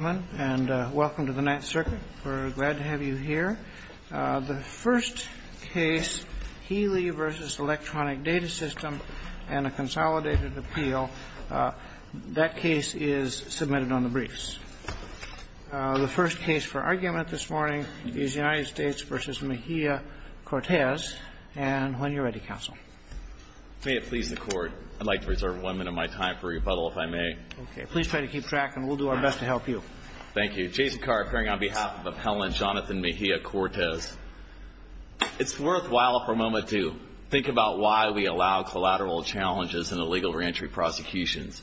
Welcome to the Ninth Circuit. We're glad to have you here. The first case, Healy v. Electronic Data System and a Consolidated Appeal, that case is submitted on the briefs. The first case for argument this morning is United States v. Mejia-Cortez. And when you're ready, counsel. May it please the Court. I'd like to reserve one minute of my time for rebuttal, if I may. Okay. Please try to keep track, and we'll do our best to help you. Thank you. Jason Carr, appearing on behalf of Appellant Jonathan Mejia-Cortez. It's worthwhile for a moment to think about why we allow collateral challenges in the legal reentry prosecutions.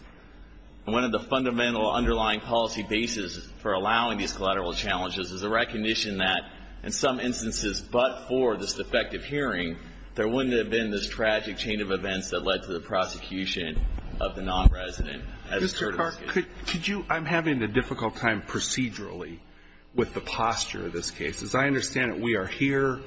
One of the fundamental underlying policy bases for allowing these collateral challenges is the recognition that, in some instances but for this defective hearing, there wouldn't have been this tragic chain of events that led to the prosecution of the nonresident. Mr. Carr, could you – I'm having a difficult time procedurally with the posture of this case. As I understand it, we are here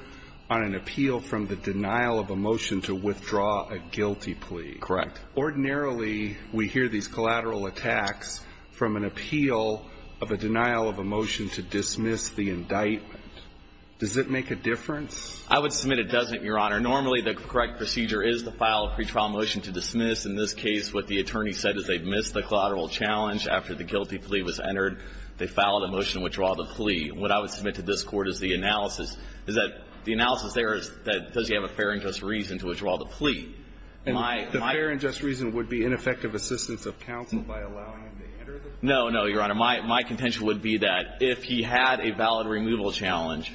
on an appeal from the denial of a motion to withdraw a guilty plea. Correct. Ordinarily, we hear these collateral attacks from an appeal of a denial of a motion to dismiss the indictment. Does it make a difference? I would submit it doesn't, Your Honor. Normally, the correct procedure is to file a pretrial motion to dismiss. In this case, what the attorney said is they missed the collateral challenge after the guilty plea was entered. They filed a motion to withdraw the plea. What I would submit to this Court is the analysis – is that the analysis there is does he have a fair and just reason to withdraw the plea? And the fair and just reason would be ineffective assistance of counsel by allowing him to enter the trial? No, no, Your Honor. My – my contention would be that if he had a valid removal challenge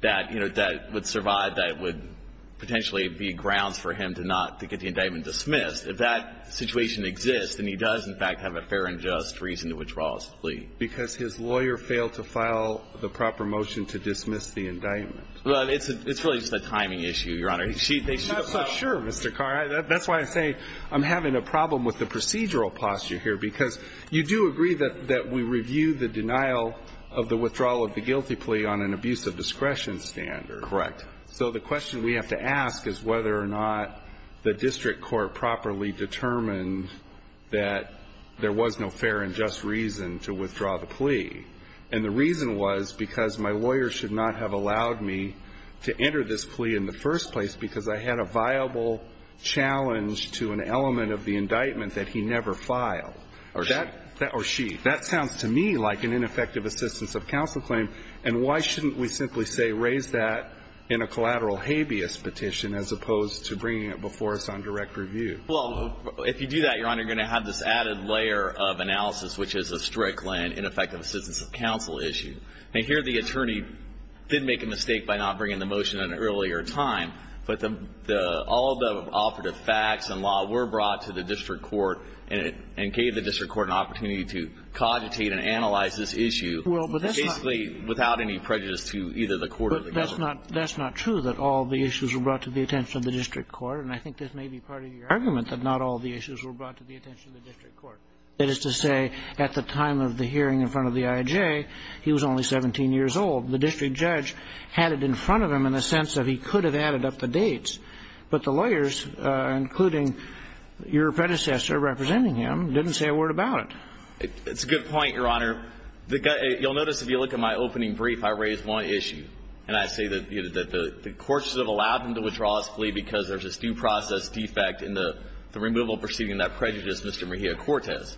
that, you know, that would survive, that would potentially be grounds for him to not – to get the indictment dismissed, if that situation exists, then he does, in fact, have a fair and just reason to withdraw his plea. Because his lawyer failed to file the proper motion to dismiss the indictment. Well, it's a – it's really just a timing issue, Your Honor. Sure, Mr. Carr. That's why I say I'm having a problem with the procedural posture here. Because you do agree that – that we review the denial of the withdrawal of the guilty plea on an abuse of discretion standard. Correct. So the question we have to ask is whether or not the district court properly determined that there was no fair and just reason to withdraw the plea. And the reason was because my lawyer should not have allowed me to enter this plea in the first place because I had a viable challenge to an element of the indictment that he never filed. Or she. Or she. That sounds to me like an ineffective assistance of counsel claim. And why shouldn't we simply say raise that in a collateral habeas petition as opposed to bringing it before us on direct review? Well, if you do that, Your Honor, you're going to have this added layer of analysis, which is a strict and ineffective assistance of counsel issue. Now, here the attorney did make a mistake by not bringing the motion at an earlier time. But the – all the operative facts and law were brought to the district court and gave the district court an opportunity to cogitate and analyze this issue. Well, but that's not – Basically, without any prejudice to either the court or the government. But that's not – that's not true, that all the issues were brought to the attention of the district court. And I think this may be part of your argument that not all the issues were brought to the attention of the district court. That is to say, at the time of the hearing in front of the IJ, he was only 17 years old. The district judge had it in front of him in the sense that he could have added up the dates. But the lawyers, including your predecessor representing him, didn't say a word about it. It's a good point, Your Honor. You'll notice if you look at my opening brief, I raise one issue. And I say that the courts have allowed him to withdraw his plea because there's this due process defect in the removal proceeding that prejudiced Mr. Mejia-Cortez.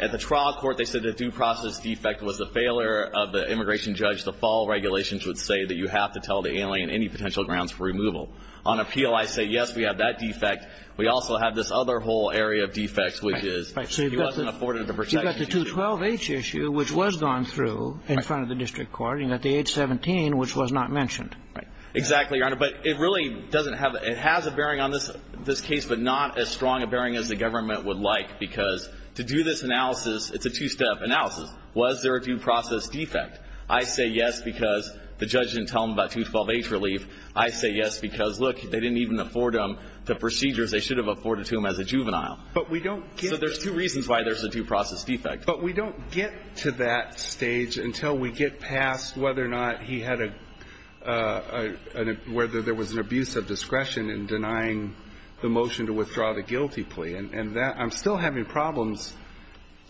At the trial court, they said the due process defect was a failure of the immigration judge. The fall regulations would say that you have to tell the alien any potential grounds for removal. On appeal, I say, yes, we have that defect. We also have this other whole area of defects, which is he wasn't afforded the protections he needed. And I say that the courts have allowed him to withdraw his plea because there's this due process defect in the removal proceeding that prejudiced Mr. Mejia-Cortez. And I say that the courts have allowed him to withdraw his plea because there's this other whole area of defects, which is he wasn't afforded the protections he needed. The two reasons why there's a due process defect. The first is that the judge didn't tell him about the due process defect. And the second is that the court didn't tell him about the due process defect. So we're at a stage until we get past whether or not he had a – whether there was an abuse of discretion in denying the motion to withdraw the guilty plea. And I'm still having problems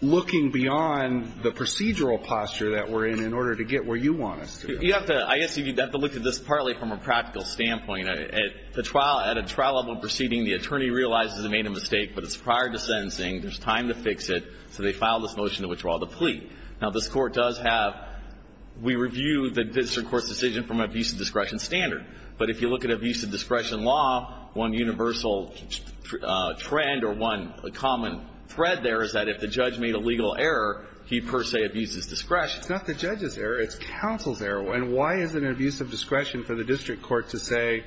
looking beyond the procedural posture that we're in in order to get where you want us to. But you have to – I guess you'd have to look at this partly from a practical standpoint. At the trial – at a trial level proceeding, the attorney realizes he made a mistake, but it's prior to sentencing. There's time to fix it. So they file this motion to withdraw the plea. Now, this Court does have – we review the district court's decision from an abuse of discretion standard. But if you look at abuse of discretion law, one universal trend or one common thread there is that if the judge made a legal error, he per se abuses discretion. It's not the judge's error. It's counsel's error. And why is it an abuse of discretion for the district court to say,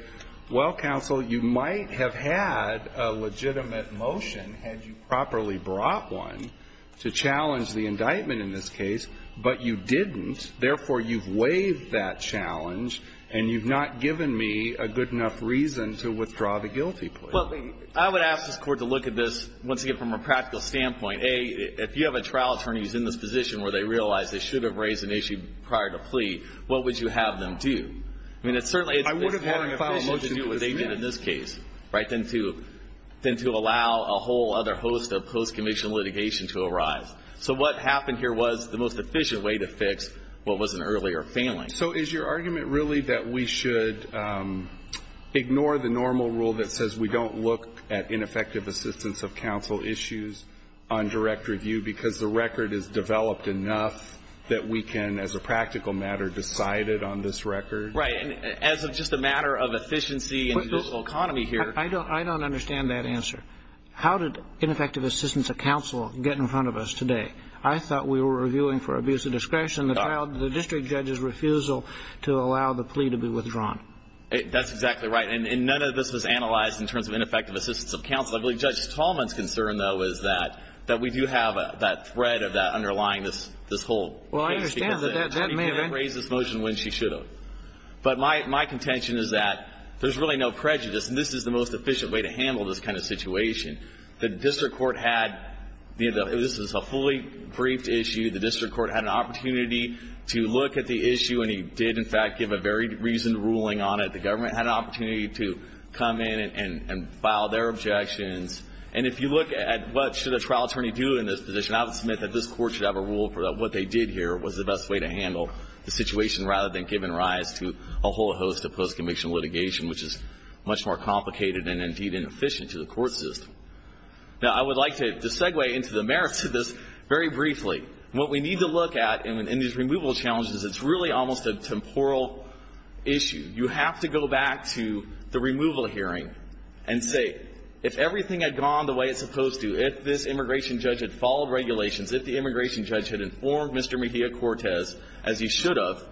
well, counsel, you might have had a legitimate motion had you properly brought one to challenge the indictment in this case, but you didn't. Therefore, you've waived that challenge, and you've not given me a good enough reason to withdraw the guilty plea. Well, I would ask this Court to look at this, once again, from a practical standpoint. A, if you have a trial attorney who's in this position where they realize they should have raised an issue prior to plea, what would you have them do? I mean, certainly it's more efficient to do what they did in this case, right, than to allow a whole other host of post-conviction litigation to arise. So what happened here was the most efficient way to fix what was an earlier failing. So is your argument really that we should ignore the normal rule that says we don't look at ineffective assistance of counsel issues on direct review because the record is developed enough that we can, as a practical matter, decide it on this record? Right. And as just a matter of efficiency in the judicial economy here. I don't understand that answer. How did ineffective assistance of counsel get in front of us today? I thought we were reviewing for abuse of discretion. The district judge's refusal to allow the plea to be withdrawn. That's exactly right. And none of this was analyzed in terms of ineffective assistance of counsel. I believe Judge Tallman's concern, though, is that we do have that thread of that underlying this whole case. Well, I understand. That may have been. She can't raise this motion when she should have. But my contention is that there's really no prejudice, and this is the most efficient way to handle this kind of situation. The district court had the end of it. This was a fully briefed issue. The district court had an opportunity to look at the issue, and he did, in fact, give a very reasoned ruling on it. The government had an opportunity to come in and file their objections. And if you look at what should a trial attorney do in this position, I would submit that this court should have a rule for what they did here was the best way to handle the situation rather than giving rise to a whole host of post-conviction litigation, which is much more complicated and, indeed, inefficient to the court system. Now, I would like to segue into the merits of this very briefly. What we need to look at in these removal challenges is it's really almost a temporal issue. You have to go back to the removal hearing and say, if everything had gone the way it's supposed to, if this immigration judge had followed regulations, if the immigration judge had informed Mr. Mejia-Cortez, as he should have,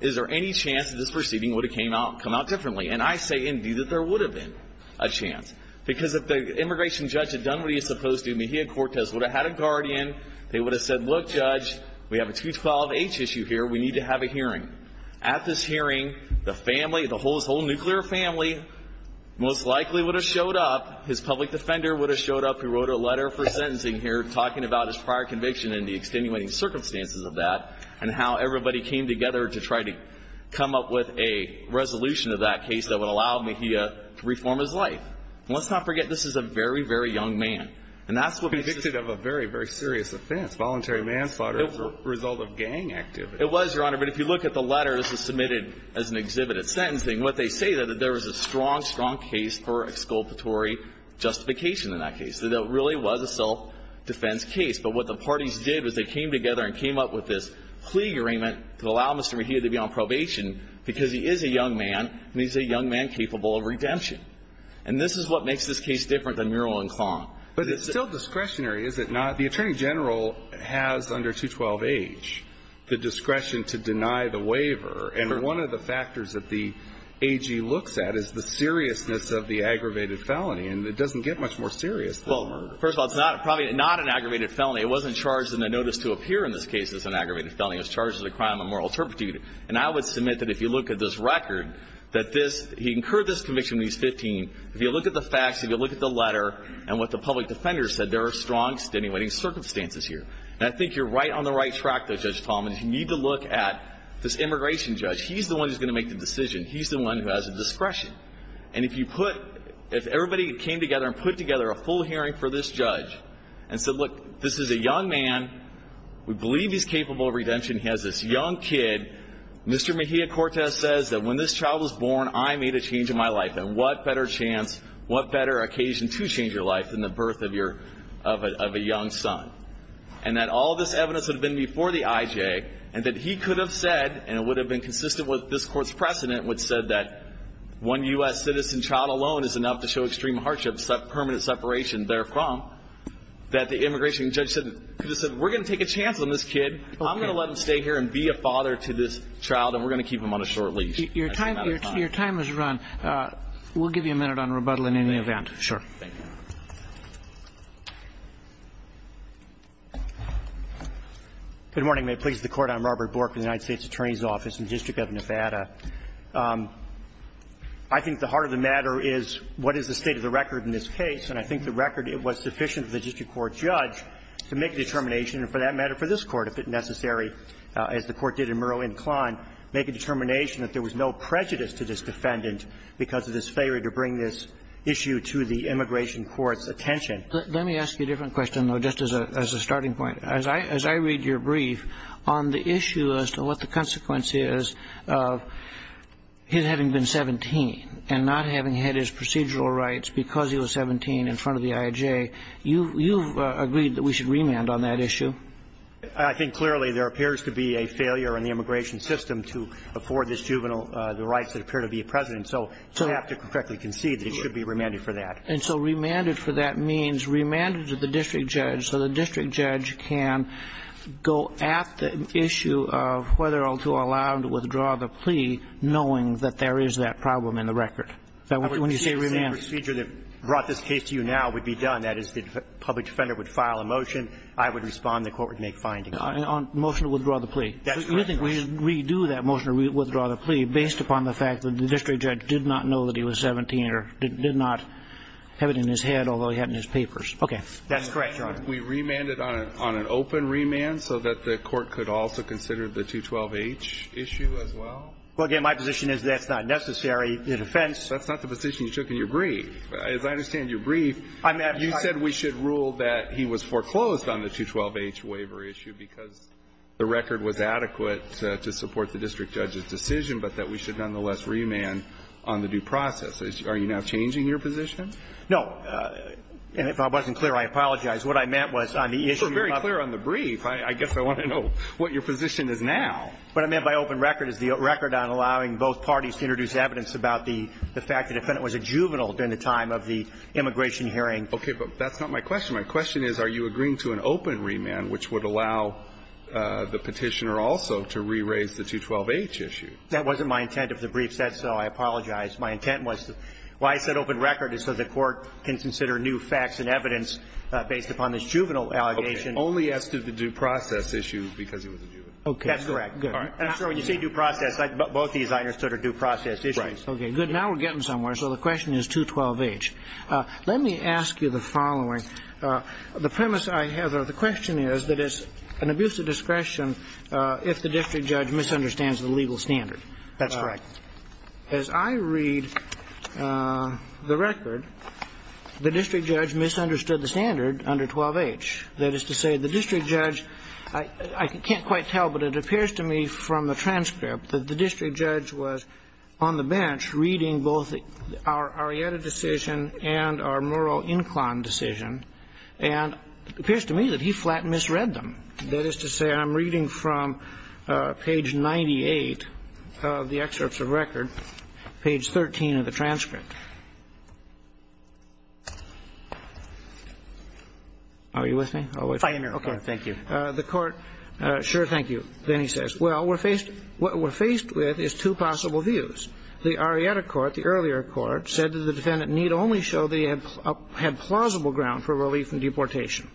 is there any chance that this proceeding would have come out differently? And I say, indeed, that there would have been a chance, because if the immigration judge had done what he was supposed to, Mejia-Cortez would have had a guardian. They would have said, look, Judge, we have a 212-H issue here. We need to have a hearing. At this hearing, the family, his whole nuclear family most likely would have showed up. His public defender would have showed up, who wrote a letter for sentencing here, talking about his prior conviction and the extenuating circumstances of that and how everybody came together to try to come up with a resolution of that case that would allow Mejia to reform his life. And let's not forget, this is a very, very young man. And that's what we should do. Convicted of a very, very serious offense, voluntary manslaughter as a result of gang activity. It was, Your Honor. But if you look at the letters that were submitted as an exhibit at sentencing, what they say is that there was a strong, strong case for exculpatory justification in that case, that it really was a self-defense case. But what the parties did was they came together and came up with this plea agreement to allow Mr. Mejia to be on probation, because he is a young man, and he's a young man capable of redemption. And this is what makes this case different than Mural and Clong. But it's still discretionary, is it not? The Attorney General has under 212H the discretion to deny the waiver. And one of the factors that the AG looks at is the seriousness of the aggravated felony. And it doesn't get much more serious than a murder. Well, first of all, it's probably not an aggravated felony. It wasn't charged in the notice to appear in this case as an aggravated felony. It was charged as a crime of moral turpitude. And I would submit that if you look at this record, that this he incurred this conviction when he was 15. If you look at the facts, if you look at the letter and what the public defender said, there are strong extenuating circumstances here. And I think you're right on the right track there, Judge Talmadge. You need to look at this immigration judge. He's the one who's going to make the decision. He's the one who has the discretion. And if everybody came together and put together a full hearing for this judge and said, look, this is a young man. We believe he's capable of redemption. He has this young kid. Mr. Mejia-Cortez says that when this child was born, I made a change in my life. And what better chance, what better occasion to change your life than the birth of a young son? And that all this evidence would have been before the IJ, and that he could have said, and it would have been consistent with this Court's precedent, which said that one U.S. citizen child alone is enough to show extreme hardship, permanent separation therefrom, that the immigration judge said, we're going to take a chance on this kid. I'm going to let him stay here and be a father to this child, and we're going to keep him on a short leash. I think that's fine. Your time has run. We'll give you a minute on rebuttal in any event. Sure. Thank you. Good morning. May it please the Court. I'm Robert Bork with the United States Attorney's Office in the District of Nevada. I think the heart of the matter is, what is the state of the record in this case? And I think the record, it was sufficient for the district court judge to make a determination and, for that matter, for this Court, if it necessary, as the Court did in Murrow and Kline, make a determination that there was no prejudice to this defendant because of this failure to bring this issue to the immigration court's attention. Let me ask you a different question, though, just as a starting point. As I read your brief, on the issue as to what the consequence is of his having been 17 and not having had his procedural rights because he was 17 in front of the IJ, you've agreed that we should remand on that issue? I think clearly there appears to be a failure in the immigration system to afford this juvenile the rights that appear to be present. So I have to correctly concede that it should be remanded for that. And so remanded for that means remanded to the district judge so the district judge can go at the issue of whether or not to allow him to withdraw the plea knowing that there is that problem in the record. When you say remanded. The procedure that brought this case to you now would be done. That is, the public defender would file a motion. I would respond. The court would make findings. Motion to withdraw the plea. That's correct, Your Honor. You think we should redo that motion to withdraw the plea based upon the fact that the district judge did not know that he was 17 or did not have it in his head, although he had it in his papers. Okay. That's correct, Your Honor. We remanded on an open remand so that the court could also consider the 212H issue as well? Well, again, my position is that's not necessary in offense. That's not the position you took in your brief. As I understand your brief, you said we should rule that he was foreclosed on the 212H waiver issue because the record was adequate to support the district judge's decision, but that we should nonetheless remand on the due process. Are you now changing your position? No. And if I wasn't clear, I apologize. What I meant was on the issue of the brief. You were very clear on the brief. I guess I want to know what your position is now. What I meant by open record is the record on allowing both parties to introduce evidence about the fact the defendant was a juvenile during the time of the immigration But that's not my question. My question is are you agreeing to an open remand which would allow the Petitioner also to re-raise the 212H issue? That wasn't my intent of the brief, so I apologize. My intent was why I said open record is so the court can consider new facts and evidence based upon this juvenile allegation. Okay. Only as to the due process issue because he was a juvenile. Okay. That's correct. Good. And I'm sure when you say due process, both these I understood are due process Okay. Now we're getting somewhere. So the question is 212H. Let me ask you the following. The premise I have of the question is that it's an abuse of discretion if the district judge misunderstands the legal standard. That's correct. As I read the record, the district judge misunderstood the standard under 212H. That is to say the district judge, I can't quite tell, but it appears to me from the and our moral incline decision, and it appears to me that he flat misread them. That is to say, I'm reading from page 98 of the excerpts of record, page 13 of the transcript. Are you with me? Fine. Okay. Thank you. The court, sure, thank you. Then he says, well, what we're faced with is two possible views. The Arietta court, the earlier court, said that the defendant need only show that he had plausible ground for relief and deportation.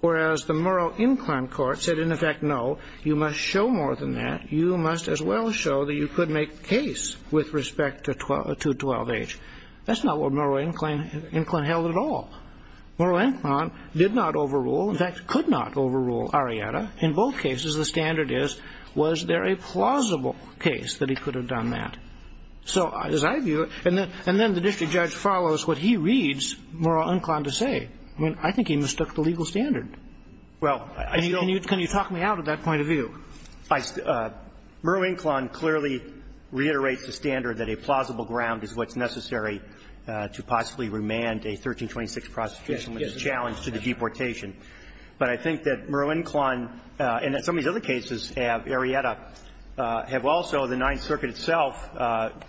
Whereas the moral incline court said, in effect, no, you must show more than that. You must as well show that you could make the case with respect to 212H. That's not what moral incline held at all. Moral incline did not overrule, in fact, could not overrule Arietta. In both cases, the standard is was there a plausible case that he could have done more than that. So as I view it, and then the district judge follows what he reads moral incline to say. I mean, I think he mistook the legal standard. Well, I don't Can you talk me out of that point of view? Moral incline clearly reiterates the standard that a plausible ground is what's necessary to possibly remand a 1326 prosecution when it's challenged to the deportation. But I think that moral incline, and that some of these other cases have Arietta have also, the Ninth Circuit itself,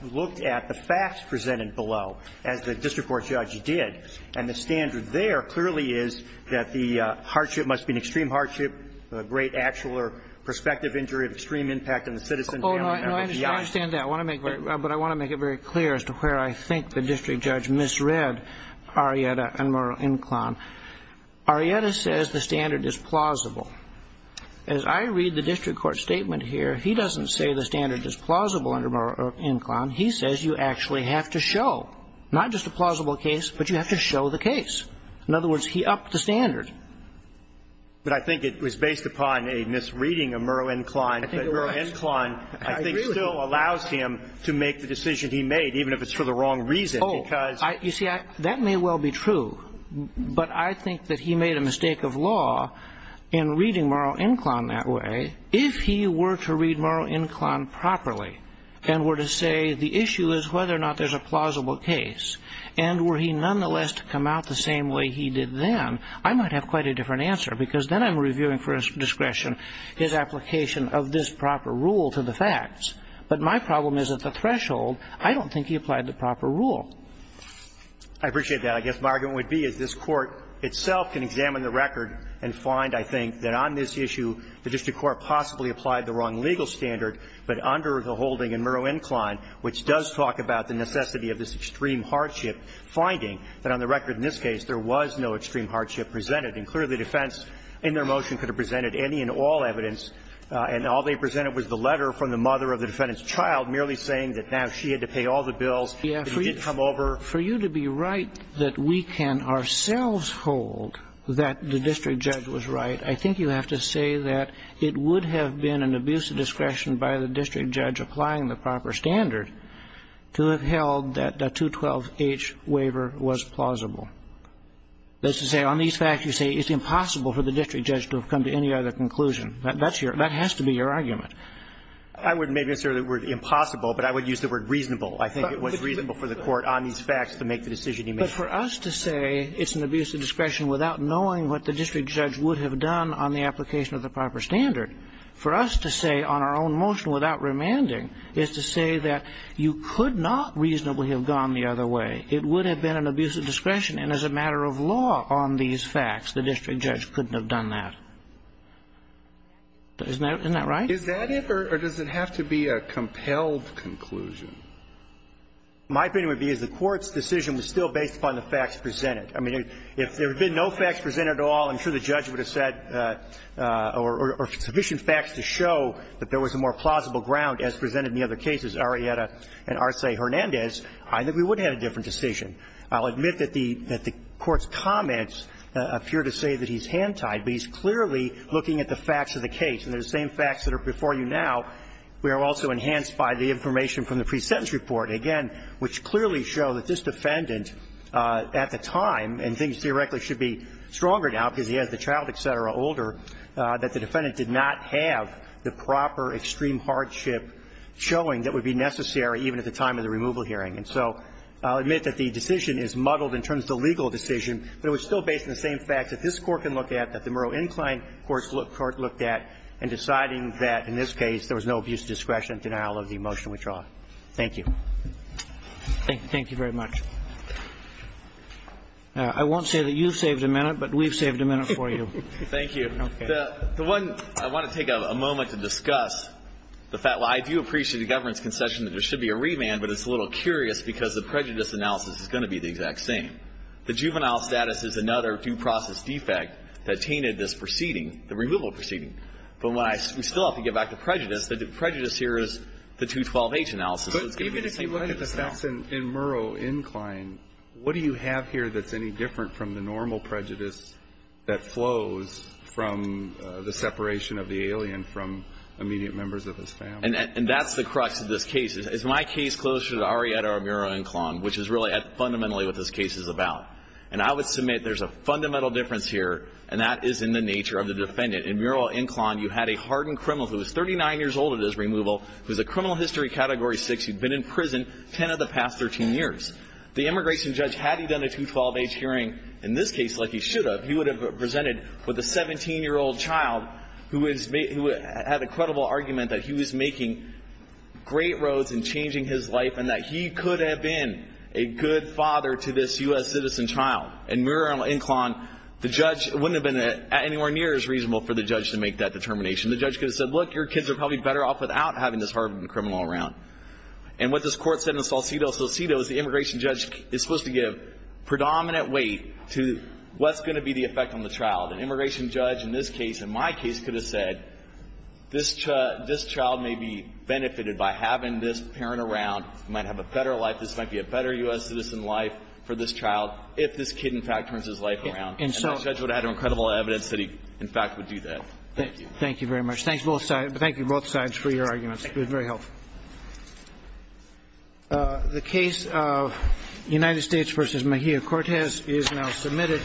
looked at the facts presented below, as the district court judge did. And the standard there clearly is that the hardship must be an extreme hardship, a great actual or prospective injury of extreme impact on the citizen family. No, I understand that. I want to make it very clear as to where I think the district judge misread Arietta and moral incline. Arietta says the standard is plausible. As I read the district court statement here, he doesn't say the standard is plausible under moral incline. He says you actually have to show, not just a plausible case, but you have to show the case. In other words, he upped the standard. But I think it was based upon a misreading of moral incline, but moral incline I think still allows him to make the decision he made, even if it's for the wrong reason, because Oh, you see, that may well be true. But I think that he made a mistake of law in reading moral incline that way. If he were to read moral incline properly and were to say the issue is whether or not there's a plausible case, and were he nonetheless to come out the same way he did then, I might have quite a different answer, because then I'm reviewing for discretion his application of this proper rule to the facts. But my problem is at the threshold, I don't think he applied the proper rule. I appreciate that. I guess my argument would be is this Court itself can examine the record and find, I think, that on this issue the district court possibly applied the wrong legal standard, but under the holding in moral incline, which does talk about the necessity of this extreme hardship, finding that on the record in this case there was no extreme hardship presented. And clearly the defense in their motion could have presented any and all evidence, and all they presented was the letter from the mother of the defendant's child merely saying that now she had to pay all the bills. And he didn't come over. For you to be right that we can ourselves hold that the district judge was right, I think you have to say that it would have been an abuse of discretion by the district judge applying the proper standard to have held that the 212H waiver was plausible. That is to say, on these facts you say it's impossible for the district judge to have come to any other conclusion. That's your – that has to be your argument. I wouldn't necessarily use the word impossible, but I would use the word reasonable. I think it was reasonable for the court on these facts to make the decision he made. But for us to say it's an abuse of discretion without knowing what the district judge would have done on the application of the proper standard, for us to say on our own motion without remanding is to say that you could not reasonably have gone the other way. It would have been an abuse of discretion, and as a matter of law on these facts, the district judge couldn't have done that. Isn't that right? Is that it, or does it have to be a compelled conclusion? My opinion would be is the Court's decision was still based upon the facts presented. I mean, if there had been no facts presented at all, I'm sure the judge would have said – or sufficient facts to show that there was a more plausible ground as presented in the other cases, Arrieta and Arce-Hernandez, I think we would have had a different decision. I'll admit that the Court's comments appear to say that he's hand-tied, but he's clearly looking at the facts of the case. And the same facts that are before you now were also enhanced by the information from the pre-sentence report, again, which clearly show that this defendant at the time, and things theoretically should be stronger now because he has the child, et cetera, older, that the defendant did not have the proper extreme hardship showing that would be necessary even at the time of the removal hearing. And so I'll admit that the decision is muddled in terms of the legal decision, but it was still based on the same facts that this Court can look at, that the Murrow Incline Court looked at in deciding that, in this case, there was no abuse of discretion and denial of the motion we draw. Thank you. Thank you very much. I won't say that you saved a minute, but we've saved a minute for you. Thank you. The one – I want to take a moment to discuss the fact – well, I do appreciate the government's concession that there should be a remand, but it's a little curious because the prejudice analysis is going to be the exact same. The juvenile status is another due process defect that tainted this proceeding, the removal proceeding. But when I – we still have to get back to prejudice. The prejudice here is the 212H analysis. But even if you look at the facts in Murrow Incline, what do you have here that's any different from the normal prejudice that flows from the separation of the alien from immediate members of his family? And that's the crux of this case. It's my case closer to Arrieta or Murrow Incline, which is really fundamentally what this case is about. And I would submit there's a fundamental difference here, and that is in the nature of the defendant. In Murrow Incline, you had a hardened criminal who was 39 years old at his removal, who was a criminal history category 6. He'd been in prison 10 of the past 13 years. The immigration judge, had he done a 212H hearing in this case like he should have, he would have presented with a 17-year-old child who is – who had a credible argument that he was making great roads in changing his life and that he could have been a good father to this U.S. citizen child. In Murrow Incline, the judge – it wouldn't have been anywhere near as reasonable for the judge to make that determination. The judge could have said, look, your kids are probably better off without having this hardened criminal around. And what this court said in Salcido Salcido is the immigration judge is supposed to give predominant weight to what's going to be the effect on the child. An immigration judge in this case, in my case, could have said, this child may be benefited by having this parent around. He might have a better life. This might be a better U.S. citizen life for this child if this kid, in fact, turns his life around. And the judge would have had incredible evidence that he, in fact, would do that. Thank you. Thank you very much. Thank you both sides for your arguments. It was very helpful. The case of United States v. Mejia Cortez is now submitted.